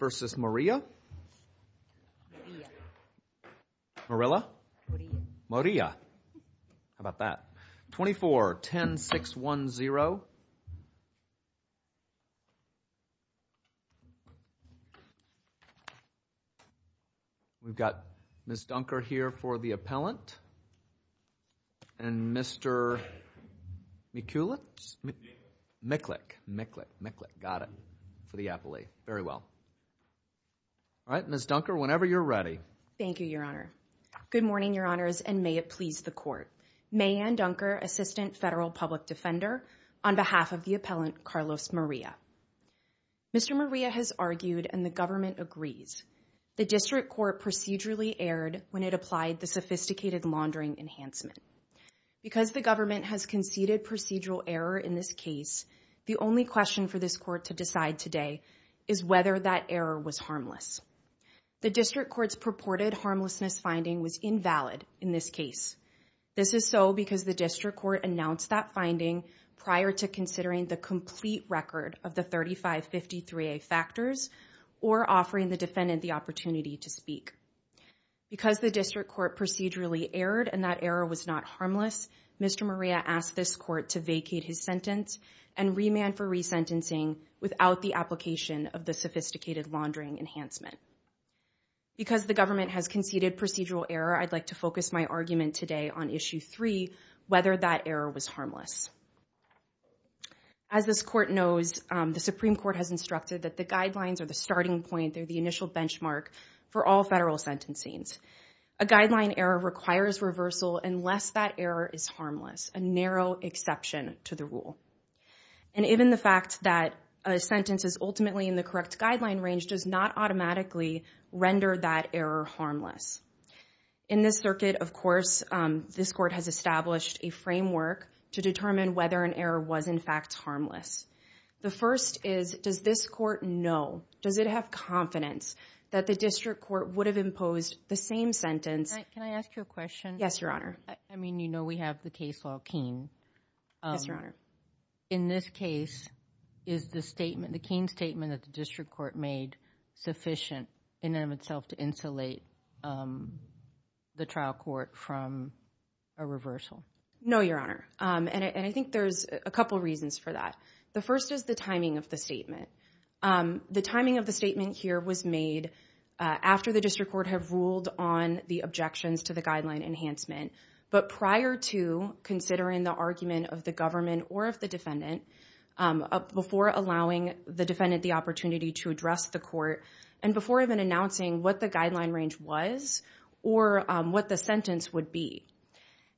vs. Maria, Morilla, Maria. How about that? 24-10-610. We've got Ms. Dunker here for the appellant. And Mr. Mikulic? Mikulic. Mikulic. Mikulic. Got it. For the appellate. Very well. All right, Ms. Dunker, whenever you're ready. Thank you, Your Honor. Good morning, Your Honors, and may it please the Court. May Ann Dunker, Assistant Federal Public Defender, on behalf of the appellant, Carlos Morilla. Mr. Morilla has argued, and the government agrees, the District Court procedurally erred when it applied the sophisticated laundering enhancement. Because the government has conceded procedural error in this case, the only question for this Court to decide today is whether that error was harmless. The District Court's purported harmlessness finding was invalid in this case. This is so because the District Court announced that finding prior to considering the complete record of the 3553A factors or offering the defendant the opportunity to speak. Because the District Court procedurally erred and that error was not harmless, Mr. Morilla asked this Court to vacate his sentence and remand for resentencing without the application of the sophisticated laundering enhancement. Because the government has conceded procedural error, I'd like to focus my argument today on Issue 3, whether that error was harmless. As this Court knows, the Supreme Court has instructed that the guidelines are the starting point. They're the initial benchmark for all federal sentencing. A guideline error requires reversal unless that error is harmless, a narrow exception to the rule. And even the fact that a sentence is ultimately in the correct guideline range does not automatically render that error harmless. In this circuit, of course, this Court has established a framework to determine whether an error was in fact harmless. The first is, does this Court know, does it have confidence that the District Court would have imposed the same sentence? Can I ask you a question? Yes, Your Honor. I mean, you know we have the case law Keene. Yes, Your Honor. In this case, is the statement, the Keene statement that the District Court made sufficient in and of itself to insulate the trial court from a reversal? No, Your Honor. And I think there's a couple reasons for that. The first is the timing of the statement. The timing of the statement here was made after the District Court had ruled on the objections to the guideline enhancement, but prior to considering the argument of the government or of the defendant, before allowing the defendant the opportunity to address the court, and before even announcing what the guideline range was or what the sentence would be.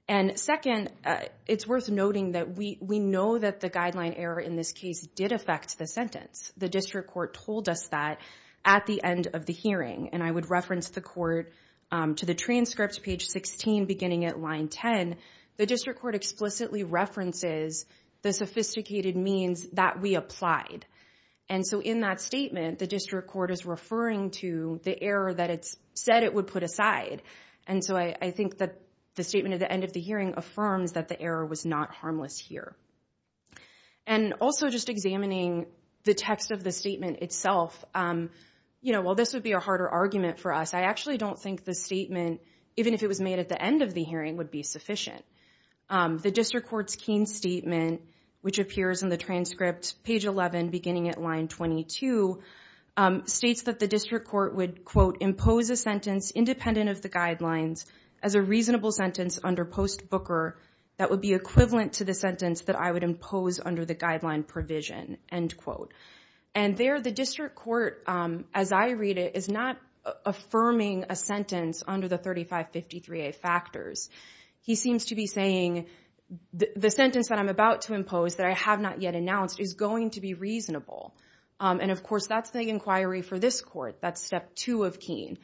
And second, it's worth noting that we know that the guideline error in this case did affect the sentence. The District Court told us that at the end of the hearing. And I would reference the Court to the transcript, page 16, beginning at line 10. The District Court explicitly references the sophisticated means that we applied. And so in that statement, the District Court is referring to the error that it said it would put aside. And so I think that the statement at the end of the hearing affirms that the error was not harmless here. And also just examining the text of the statement itself, you know, while this would be a harder argument for us, I actually don't think the statement, even if it was made at the end of the hearing, would be sufficient. The District Court's Keene statement, which appears in the transcript, page 11, beginning at line 22, states that the District Court would, quote, impose a sentence independent of the guidelines as a reasonable sentence under post-Booker that would be equivalent to the sentence that I would impose under the guideline provision, end quote. And there, the District Court, as I read it, is not affirming a sentence under the 3553A factors. He seems to be saying the sentence that I'm about to impose that I have not yet announced is going to be reasonable. And of course, that's the inquiry for this Court. That's two of Keene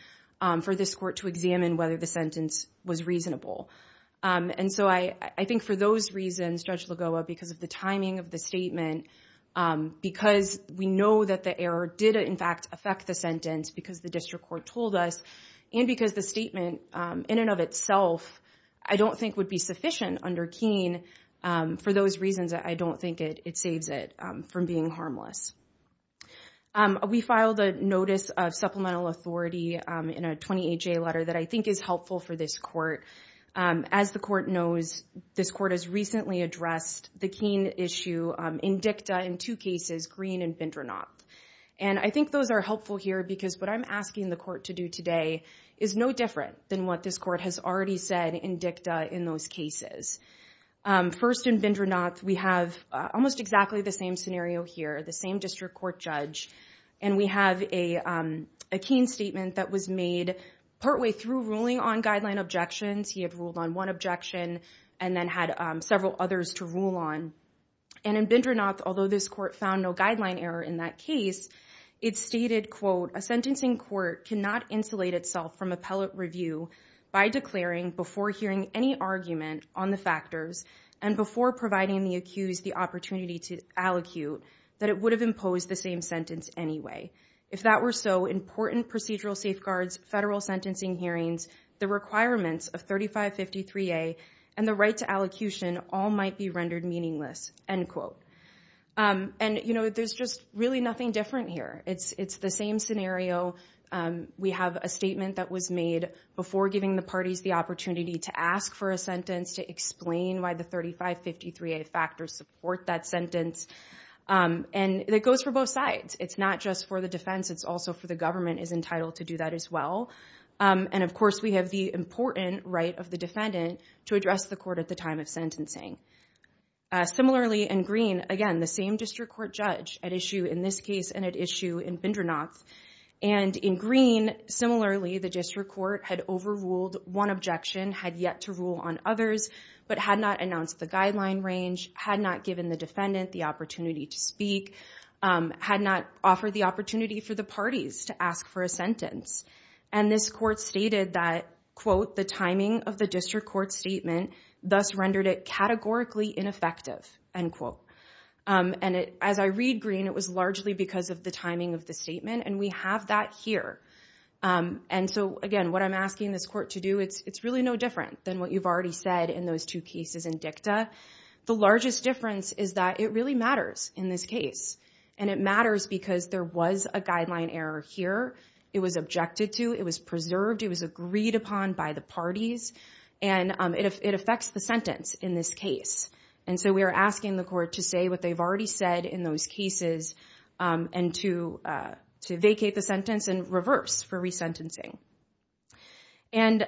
for this Court to examine whether the sentence was reasonable. And so I think for those reasons, Judge Lagoa, because of the timing of the statement, because we know that the error did, in fact, affect the sentence because the District Court told us, and because the statement in and of itself I don't think would be sufficient under Keene. For those reasons, I don't think it saves it from being harmless. We filed a notice of supplemental authority in a 28-J letter that I think is helpful for this Court. As the Court knows, this Court has recently addressed the Keene issue in dicta in two cases, Green and Bindranath. And I think those are helpful here because what I'm asking the Court to do today is no different than what this Court has already said in dicta in those cases. First, in Bindranath, we have almost exactly the same scenario here, the same District Court judge. And we have a Keene statement that was made partway through ruling on guideline objections. He had ruled on one objection and then had several others to rule on. And in Bindranath, although this Court found no guideline error in that case, it stated, quote, a sentencing court cannot insulate itself from appellate review by declaring before hearing any argument on the factors and before providing the accused the opportunity to allocute that it would have imposed the same sentence anyway. If that were so, important procedural safeguards, federal sentencing hearings, the requirements of 3553A, and the right to allocution all might be rendered meaningless, end quote. And there's just really nothing different here. It's the same scenario. We have a statement that was made before giving the parties the opportunity to ask for a sentence, to explain why the 3553A factors support that sentence. And that goes for both sides. It's not just for the defense. It's also for the government is entitled to do that as well. And of course, we have the important right of the defendant to address the Court at the time of sentencing. Similarly, in Greene, again, the same district court judge at issue in this case and at issue in Bindranath. And in Greene, similarly, the district court had overruled one objection, had yet to rule on others, but had not announced the guideline range, had not given the defendant the opportunity to speak, had not offered the opportunity for the parties to ask for a sentence. And this Court stated that, quote, the timing of the district court statement thus rendered it categorically ineffective, end quote. And as I read Greene, it was largely because of the timing of the statement. And we have that here. And so again, what I'm asking this Court to do, it's really no different than what you've already said in those two cases in DICTA. The largest difference is that it really matters in this case. And it matters because there was a guideline error here. It was objected to. It was preserved. It was agreed upon by the parties. And it affects the sentence in this case. And so we are asking the Court to say what they've already said in those cases and to vacate the sentence and reverse for resentencing. And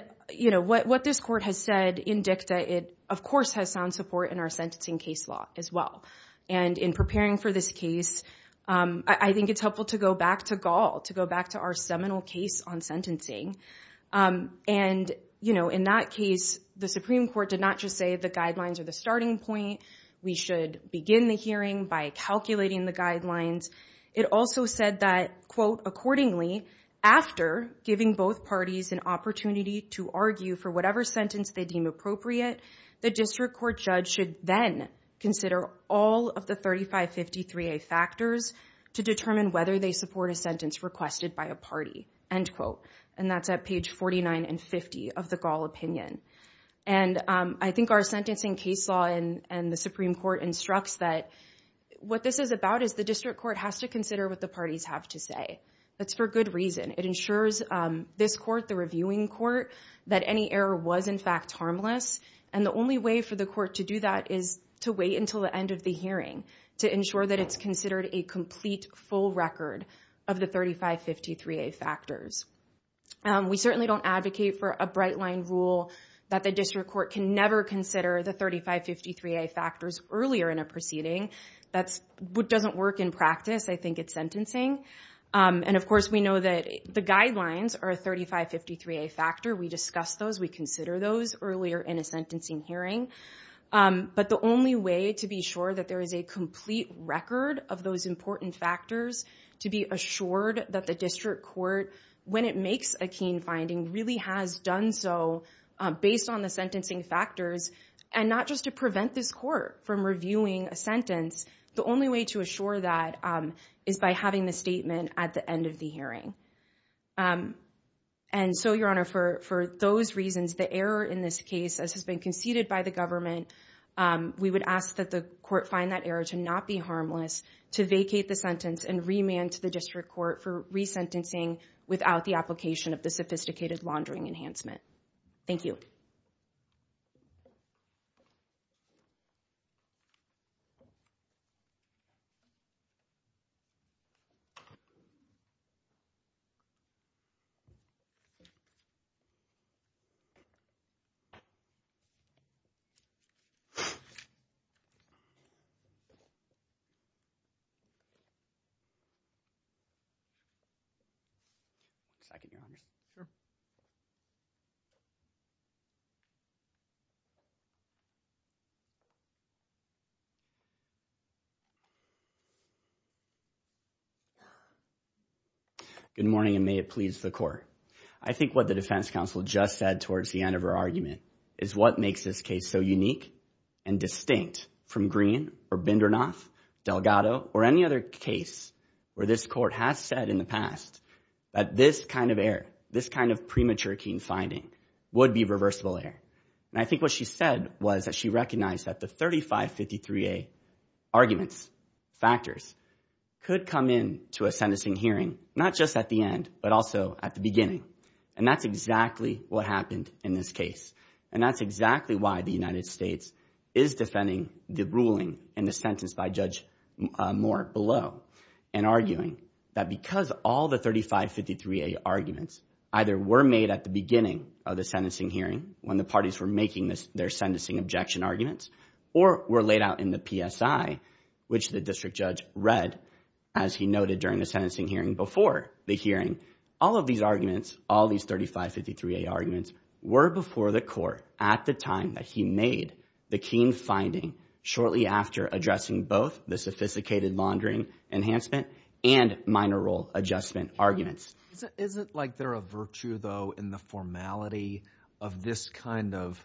what this Court has said in DICTA, it, of course, has sound support in our sentencing case law as well. And in preparing for this case, I think it's helpful to go back to Gall, to go back to our seminal case on sentencing. And, you know, in that case, the Supreme Court did not just say the guidelines are the starting point. We should begin the hearing by calculating the guidelines. It also said that, quote, accordingly, after giving both parties an opportunity to argue for whatever sentence they deem appropriate, the district court judge should then consider all of the 3553A factors to determine whether they support a sentence requested by a party, end quote. And that's at page 49 and 50 of the Gall opinion. And I think our sentencing case law and the Supreme Court instructs that what this is about is the district court has to consider what the parties have to say. That's for good reason. It ensures this Court, the reviewing Court, that any error was, in fact, harmless. And the only way for the Court to do that is to wait until the end of the hearing to ensure that it's considered a complete full record of the 3553A factors. We certainly don't advocate for a bright line rule that the district court can never consider the 3553A factors earlier in a proceeding. That doesn't work in practice. I think it's And, of course, we know that the guidelines are a 3553A factor. We discuss those. We consider those earlier in a sentencing hearing. But the only way to be sure that there is a complete record of those important factors to be assured that the district court, when it makes a keen finding, really has done so based on the sentencing factors and not just to prevent this Court from reviewing a sentence, the only way to assure that is by having the statement at the end of the hearing. And so, Your Honor, for those reasons, the error in this case, as has been conceded by the government, we would ask that the Court find that error to not be harmless, to vacate the sentence and remand to the district court for resentencing without the application of the sophisticated laundering enhancement. Thank you. Thank you, Your Honor. Sure. Good morning, and may it please the Court. I think what the defense counsel just said towards the end of her argument is what makes this case so unique and distinct from Greene or Bindernoth, Delgado, or any other case where this Court has said in the past that this kind of error, this kind of premature keen finding, would be reversible error. And I think what she said was that she recognized that the 3553A arguments, factors, could come into a sentencing hearing not just at the end but also at the beginning. And that's exactly what happened in this case. And that's exactly why the United States is defending the ruling in the sentence by Judge Moore below and arguing that because all the 3553A arguments either were made at the beginning of the sentencing hearing when the parties were making their sentencing objection arguments or were laid out in the PSI, which the district judge read as he noted during the sentencing hearing before the hearing, all of these arguments, all these 3553A arguments, were before the Court at the time that he made the keen finding shortly after addressing both the sophisticated laundering enhancement and minor role adjustment arguments. Isn't like there a virtue, though, in the formality of this kind of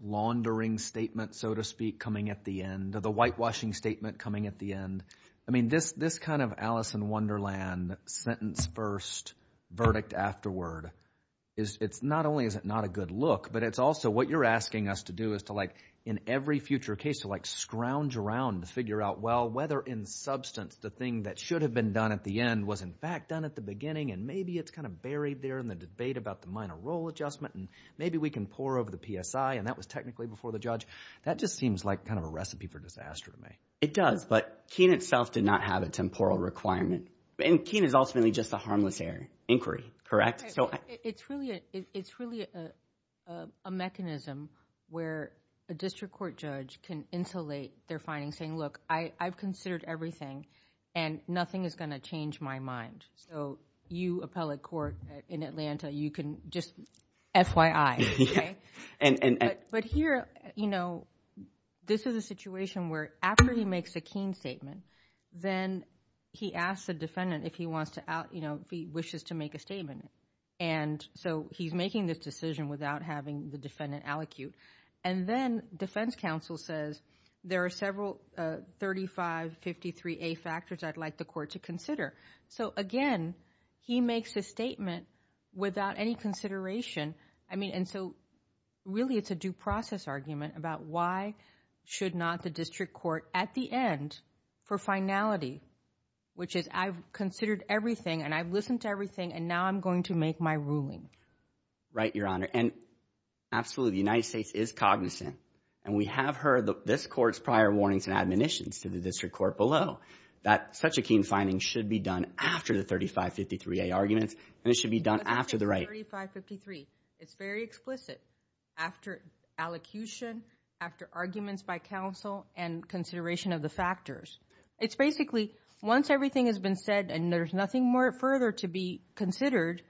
laundering statement, so to speak, coming at the end, the whitewashing statement coming at the end? I mean, this kind of wonderland, sentence first, verdict afterward, it's not only is it not a good look, but it's also what you're asking us to do is to, like, in every future case, to, like, scrounge around to figure out, well, whether in substance the thing that should have been done at the end was, in fact, done at the beginning, and maybe it's kind of buried there in the debate about the minor role adjustment, and maybe we can pour over the PSI, and that was technically before the judge. That just seems like kind of a recipe for disaster to me. It does, but Keene itself did not have a temporal requirement, and Keene is ultimately just a harmless inquiry, correct? It's really a mechanism where a district court judge can insulate their findings, saying, look, I've considered everything, and nothing is going to change my mind, so you, appellate court in Atlanta, you can just FYI, okay? But here, you know, this is a situation where after he makes a Keene statement, then he asks the defendant if he wants to, you know, if he wishes to make a statement, and so he's making this decision without having the defendant allocute, and then defense counsel says, there are several 3553A factors I'd like the court to consider, so again, he makes a statement without any consideration. I mean, and so really, it's a due process argument about why should not the district court at the end for finality, which is, I've considered everything, and I've listened to everything, and now I'm going to make my ruling. Right, Your Honor, and absolutely, the United States is cognizant, and we have heard this court's prior warnings and admonitions to the district court below that such a Keene finding should be done after the 3553A arguments, and it should be done after the right. 3553, it's very explicit, after allocution, after arguments by counsel, and consideration of the factors. It's basically, once everything has been said, and there's nothing more further to be considered,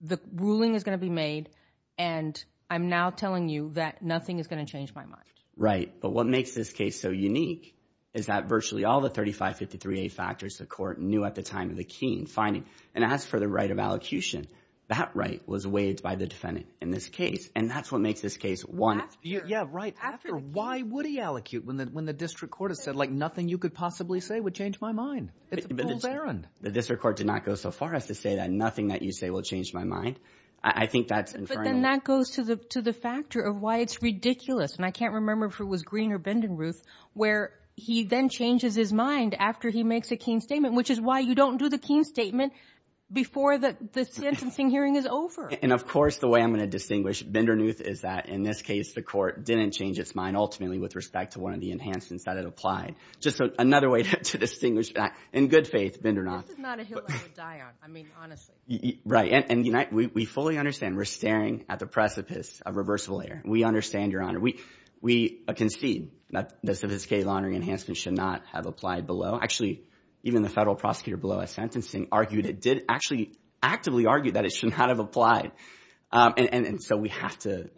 the ruling is going to be made, and I'm now telling you that nothing is going to change my mind. Right, but what makes this case so unique is that virtually all the 3553A factors the court knew at the time of the Keene finding, and as for the right of allocution, that right was waived by the defendant in this case, and that's what makes this case one. Yeah, right, after why would he allocute when the district court has said, like, nothing you could possibly say would change my mind? It's a fool's errand. The district court did not go so far as to say that nothing that you say will change my mind. I think that's infernal. But then that goes to the factor of why it's ridiculous, and I can't remember if it was Green or Bendenruth, where he then changes his mind after he makes a Keene statement, which is why you don't do the Keene statement before the sentencing hearing is over. And, of course, the way I'm going to distinguish Bendenruth is that, in this case, the court didn't change its mind, ultimately, with respect to one of the enhancements that it applied. Just another way to distinguish that. In good faith, Bendenruth. This is not a hill I would die on, I mean, honestly. Right, and we fully understand. We're staring at the precipice of reversible error. We understand, Your Honor. We concede that the sophisticated laundering enhancement should not have applied below. Actually, even the federal prosecutor below us, sentencing, argued it did actually actively argue that it should not have applied. And so we have to,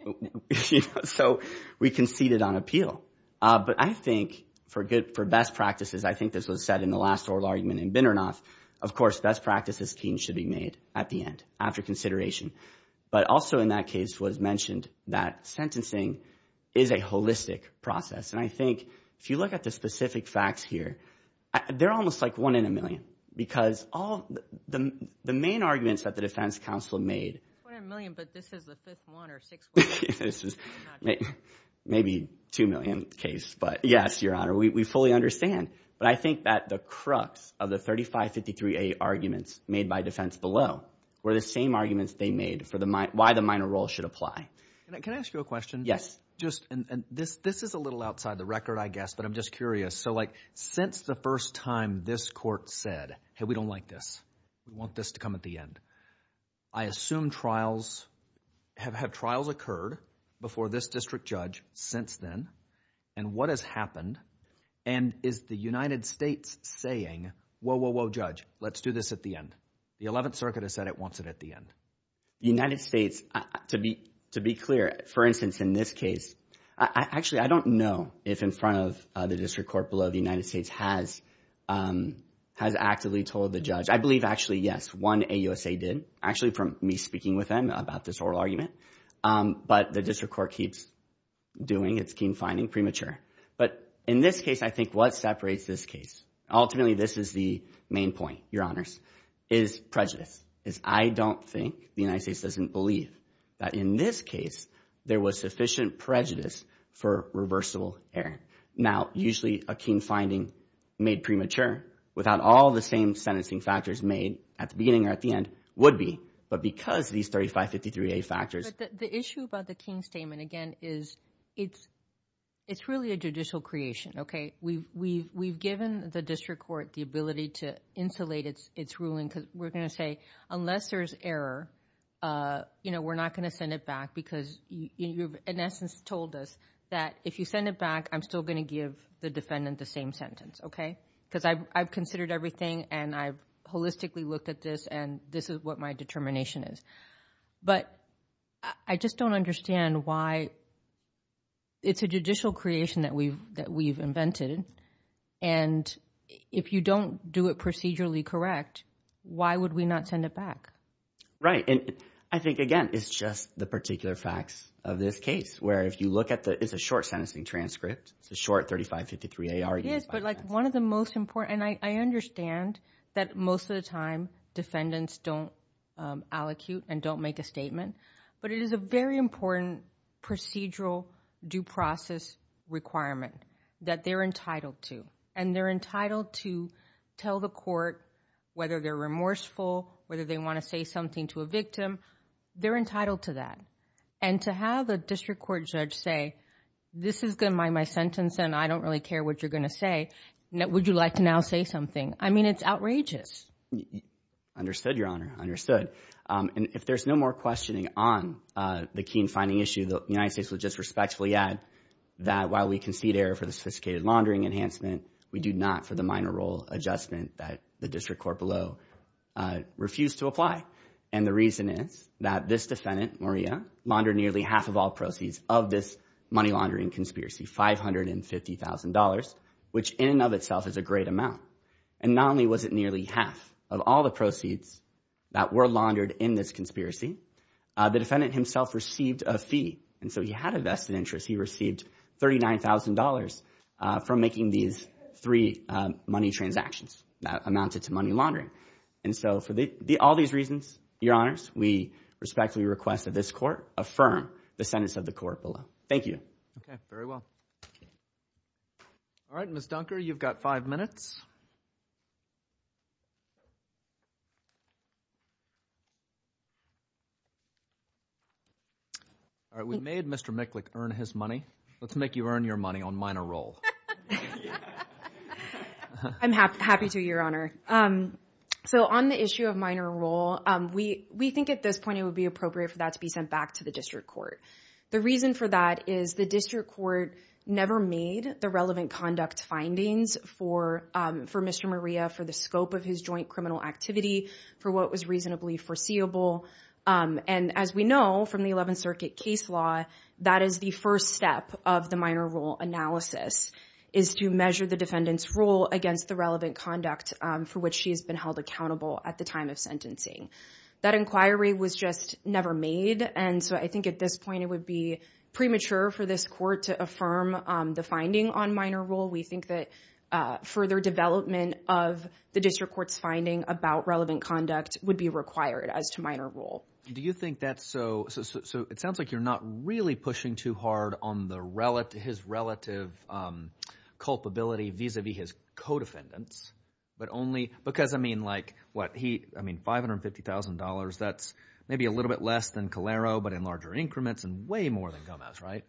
you know, so we conceded on appeal. But I think for good, for best practices, I think this was said in the last oral argument in Bendernuth, of course, best practices Keene should be made at the end, after consideration. But also in that case was mentioned that sentencing is a holistic process. And I think if you look at the specific facts here, they're almost like one in a million. Because all the main arguments that the Defense Council made. One in a million, but this is the fifth one or sixth one. This is maybe two million case. But yes, Your Honor, we fully understand. But I think that the crux of the 3553A arguments made by defense below, were the same arguments they made for why the minor role should apply. Can I ask you a question? Yes, just and this, this is a little outside the record, I guess, but I'm just curious. So like, since the first time this court said, hey, we don't like this, we want this to come at the end. I assume trials have had trials occurred before this district judge since then. And what has happened? And is the United States saying, whoa, whoa, whoa, judge, let's do this at the end. The 11th Circuit has said it wants it at the end. United States, to be to be clear, for instance, in this case, I actually I don't know if in front of the district court below the United States has, has actively told the judge, I believe, actually, yes, one AUSA did actually from me speaking with them about this oral argument. But the district court keeps doing its keen finding premature. But in this case, I think what separates this case, ultimately, this is the main point, your honors, is prejudice, is I don't think the United States doesn't believe that in this case, there was sufficient prejudice for reversible error. Now, usually a keen finding made premature without all the same sentencing factors made at the beginning or at the end would be, but because these 3553A factors. The issue about the keen statement, again, is it's, it's really a judicial creation, okay? We've, we've, we've given the district court the ability to insulate its, its ruling because we're going to say, unless there's error, you know, we're not going to send it back because you've, in essence, told us that if you send it back, I'm still going to give the defendant the same sentence, okay? Because I've, I've considered everything and I've holistically looked at this and this is what my determination is. But I just don't understand why it's a judicial creation that we've, that we've invented. And if you don't do it procedurally correct, why would we not send it back? Right. And I think, again, it's just the particular facts of this case, where if you look at the, it's a short sentencing transcript, it's a short 3553A argument. Yes, but like one of the most important, and I understand that most of the time defendants don't allocute and don't make a statement, but it is a very important procedural due process requirement that they're entitled to. And they're entitled to tell the court whether they're remorseful, whether they want to say something to a victim, they're entitled to that. And to have a district court judge say, this is going to be my sentence and I don't really care what you're going to say. Would you like to now say something? I mean, it's outrageous. Understood, Your Honor. Understood. And if there's no more questioning on the keen finding issue, the United States would just respectfully add that while we concede error for the sophisticated laundering enhancement, we do not for the minor role adjustment that the district court below refused to apply. And the reason is that this defendant, Maria, laundered nearly half of all proceeds of this money laundering conspiracy, $550,000, which in and of itself is a great amount. And not only was it nearly half of all the proceeds that were laundered in this conspiracy, the defendant himself received a fee. And so he had a vested interest. He received $39,000 from making these three money transactions that amounted to money laundering. And so for all these reasons, Your Honors, we respectfully request that this court affirm the sentence of the court below. Thank you. Okay, very well. All right, Ms. Dunker, you've got five minutes. All right, we made Mr. Miklik earn his money. Let's make you earn your money on minor role. I'm happy to, Your Honor. So on the issue of minor role, we think at this point it would be appropriate for that to be sent back to the district court. The reason for that is the district court never made the relevant conduct findings for Mr. Maria for the scope of his joint criminal activity, for what was reasonably foreseeable. And as we know from the 11th Circuit case law, that is the first step of the minor role analysis, is to measure the defendant's role against the relevant conduct for which she has been held accountable at the time of sentencing. That inquiry was just never made. And so I think at this point it would be premature for this court to affirm the finding on minor role. We think that further development of the district court's finding about relevant conduct would be required as to minor role. Do you think that's so, so it sounds like you're not really pushing too hard on the relative, his relative culpability vis-a-vis his co-defendants, but only because I mean like what he, I mean $550,000, that's maybe a little bit less than Calero, but in larger increments and way more than Gomez, right?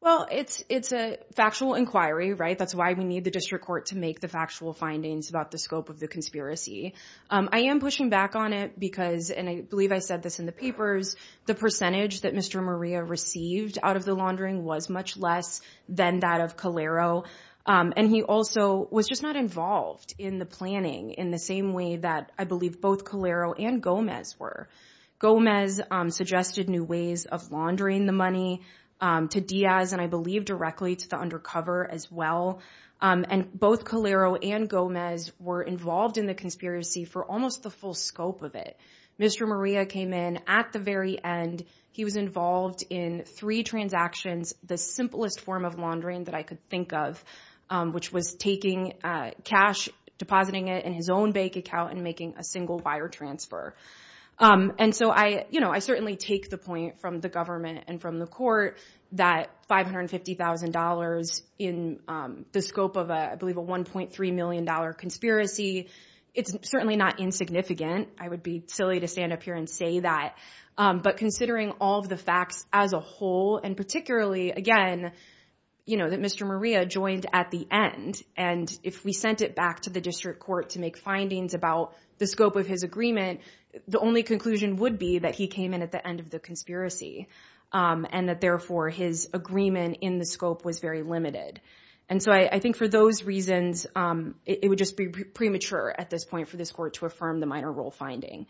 Well, it's, it's a factual inquiry, right? That's why we need the district court to make the factual findings about the scope of the conspiracy. I am pushing back on it because, and I believe I said this in the papers, the percentage that Mr. Maria received out of the laundering was much less than that of Calero. And he also was just not involved in the planning in the same way that I believe both Calero and Gomez were. Gomez suggested new ways of laundering the money to Diaz and I believe directly to the involved in the conspiracy for almost the full scope of it. Mr. Maria came in at the very end. He was involved in three transactions, the simplest form of laundering that I could think of, which was taking cash, depositing it in his own bank account and making a single buyer transfer. And so I, you know, I certainly take the point from the government and from the court that $550,000 in the scope of a, I believe a $1.3 million conspiracy, it's certainly not insignificant. I would be silly to stand up here and say that. But considering all of the facts as a whole, and particularly again, you know, that Mr. Maria joined at the end and if we sent it back to the district court to make findings about the scope of his agreement, the only conclusion would be that he came in at the end of the conspiracy and that therefore his agreement in the scope was very limited. And so I think for those reasons, it would just be premature at this point for this court to affirm the minor role finding.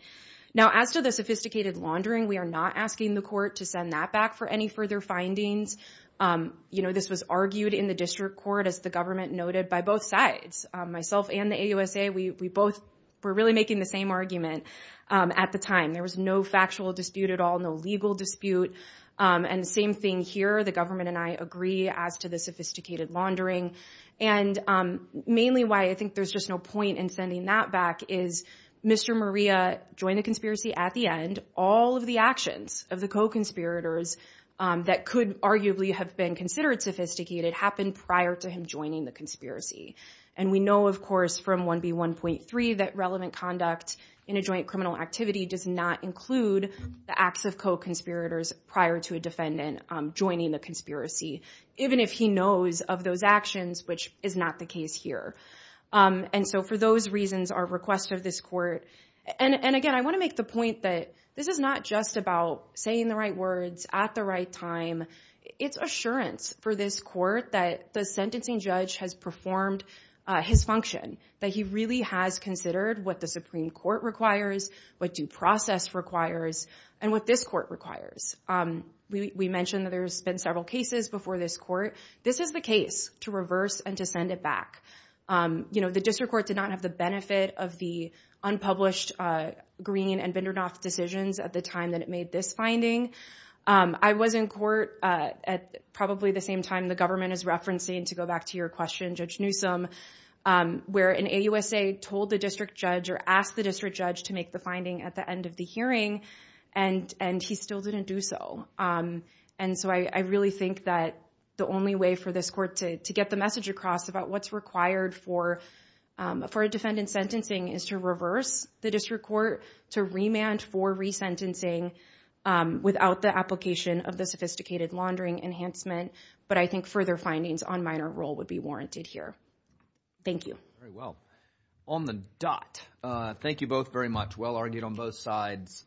Now, as to the sophisticated laundering, we are not asking the court to send that back for any further findings. You know, this was argued in the district court as the government noted by both sides, myself and the AUSA. We both were really the same argument at the time. There was no factual dispute at all, no legal dispute. And the same thing here, the government and I agree as to the sophisticated laundering. And mainly why I think there's just no point in sending that back is Mr. Maria joined the conspiracy at the end. All of the actions of the co-conspirators that could arguably have been considered sophisticated happened prior to him joining the conspiracy. And we know, of course, from 1B1.3 that relevant conduct in a joint criminal activity does not include the acts of co-conspirators prior to a defendant joining the conspiracy, even if he knows of those actions, which is not the case here. And so for those reasons, our request of this court, and again, I want to make the point that this is not just about saying the right words at the right time. It's assurance for this court that the sentencing judge has performed his function, that he really has considered what the Supreme Court requires, what due process requires, and what this court requires. We mentioned that there's been several cases before this court. This is the case to reverse and to send it back. The district court did not have the benefit of the unpublished Green and Bindernoff decisions at the time that it made this finding. I was in court at probably the same time the government is referencing, to go back to your question, Judge Newsom, where an AUSA told the district judge or asked the district judge to make the finding at the end of the hearing, and he still didn't do so. And so I really think that the only way for this court to get the message across about what's required for a defendant's sentencing is to the district court, to remand for resentencing without the application of the sophisticated laundering enhancement. But I think further findings on minor role would be warranted here. Thank you. Very well. On the dot. Thank you both very much. Well argued on both sides.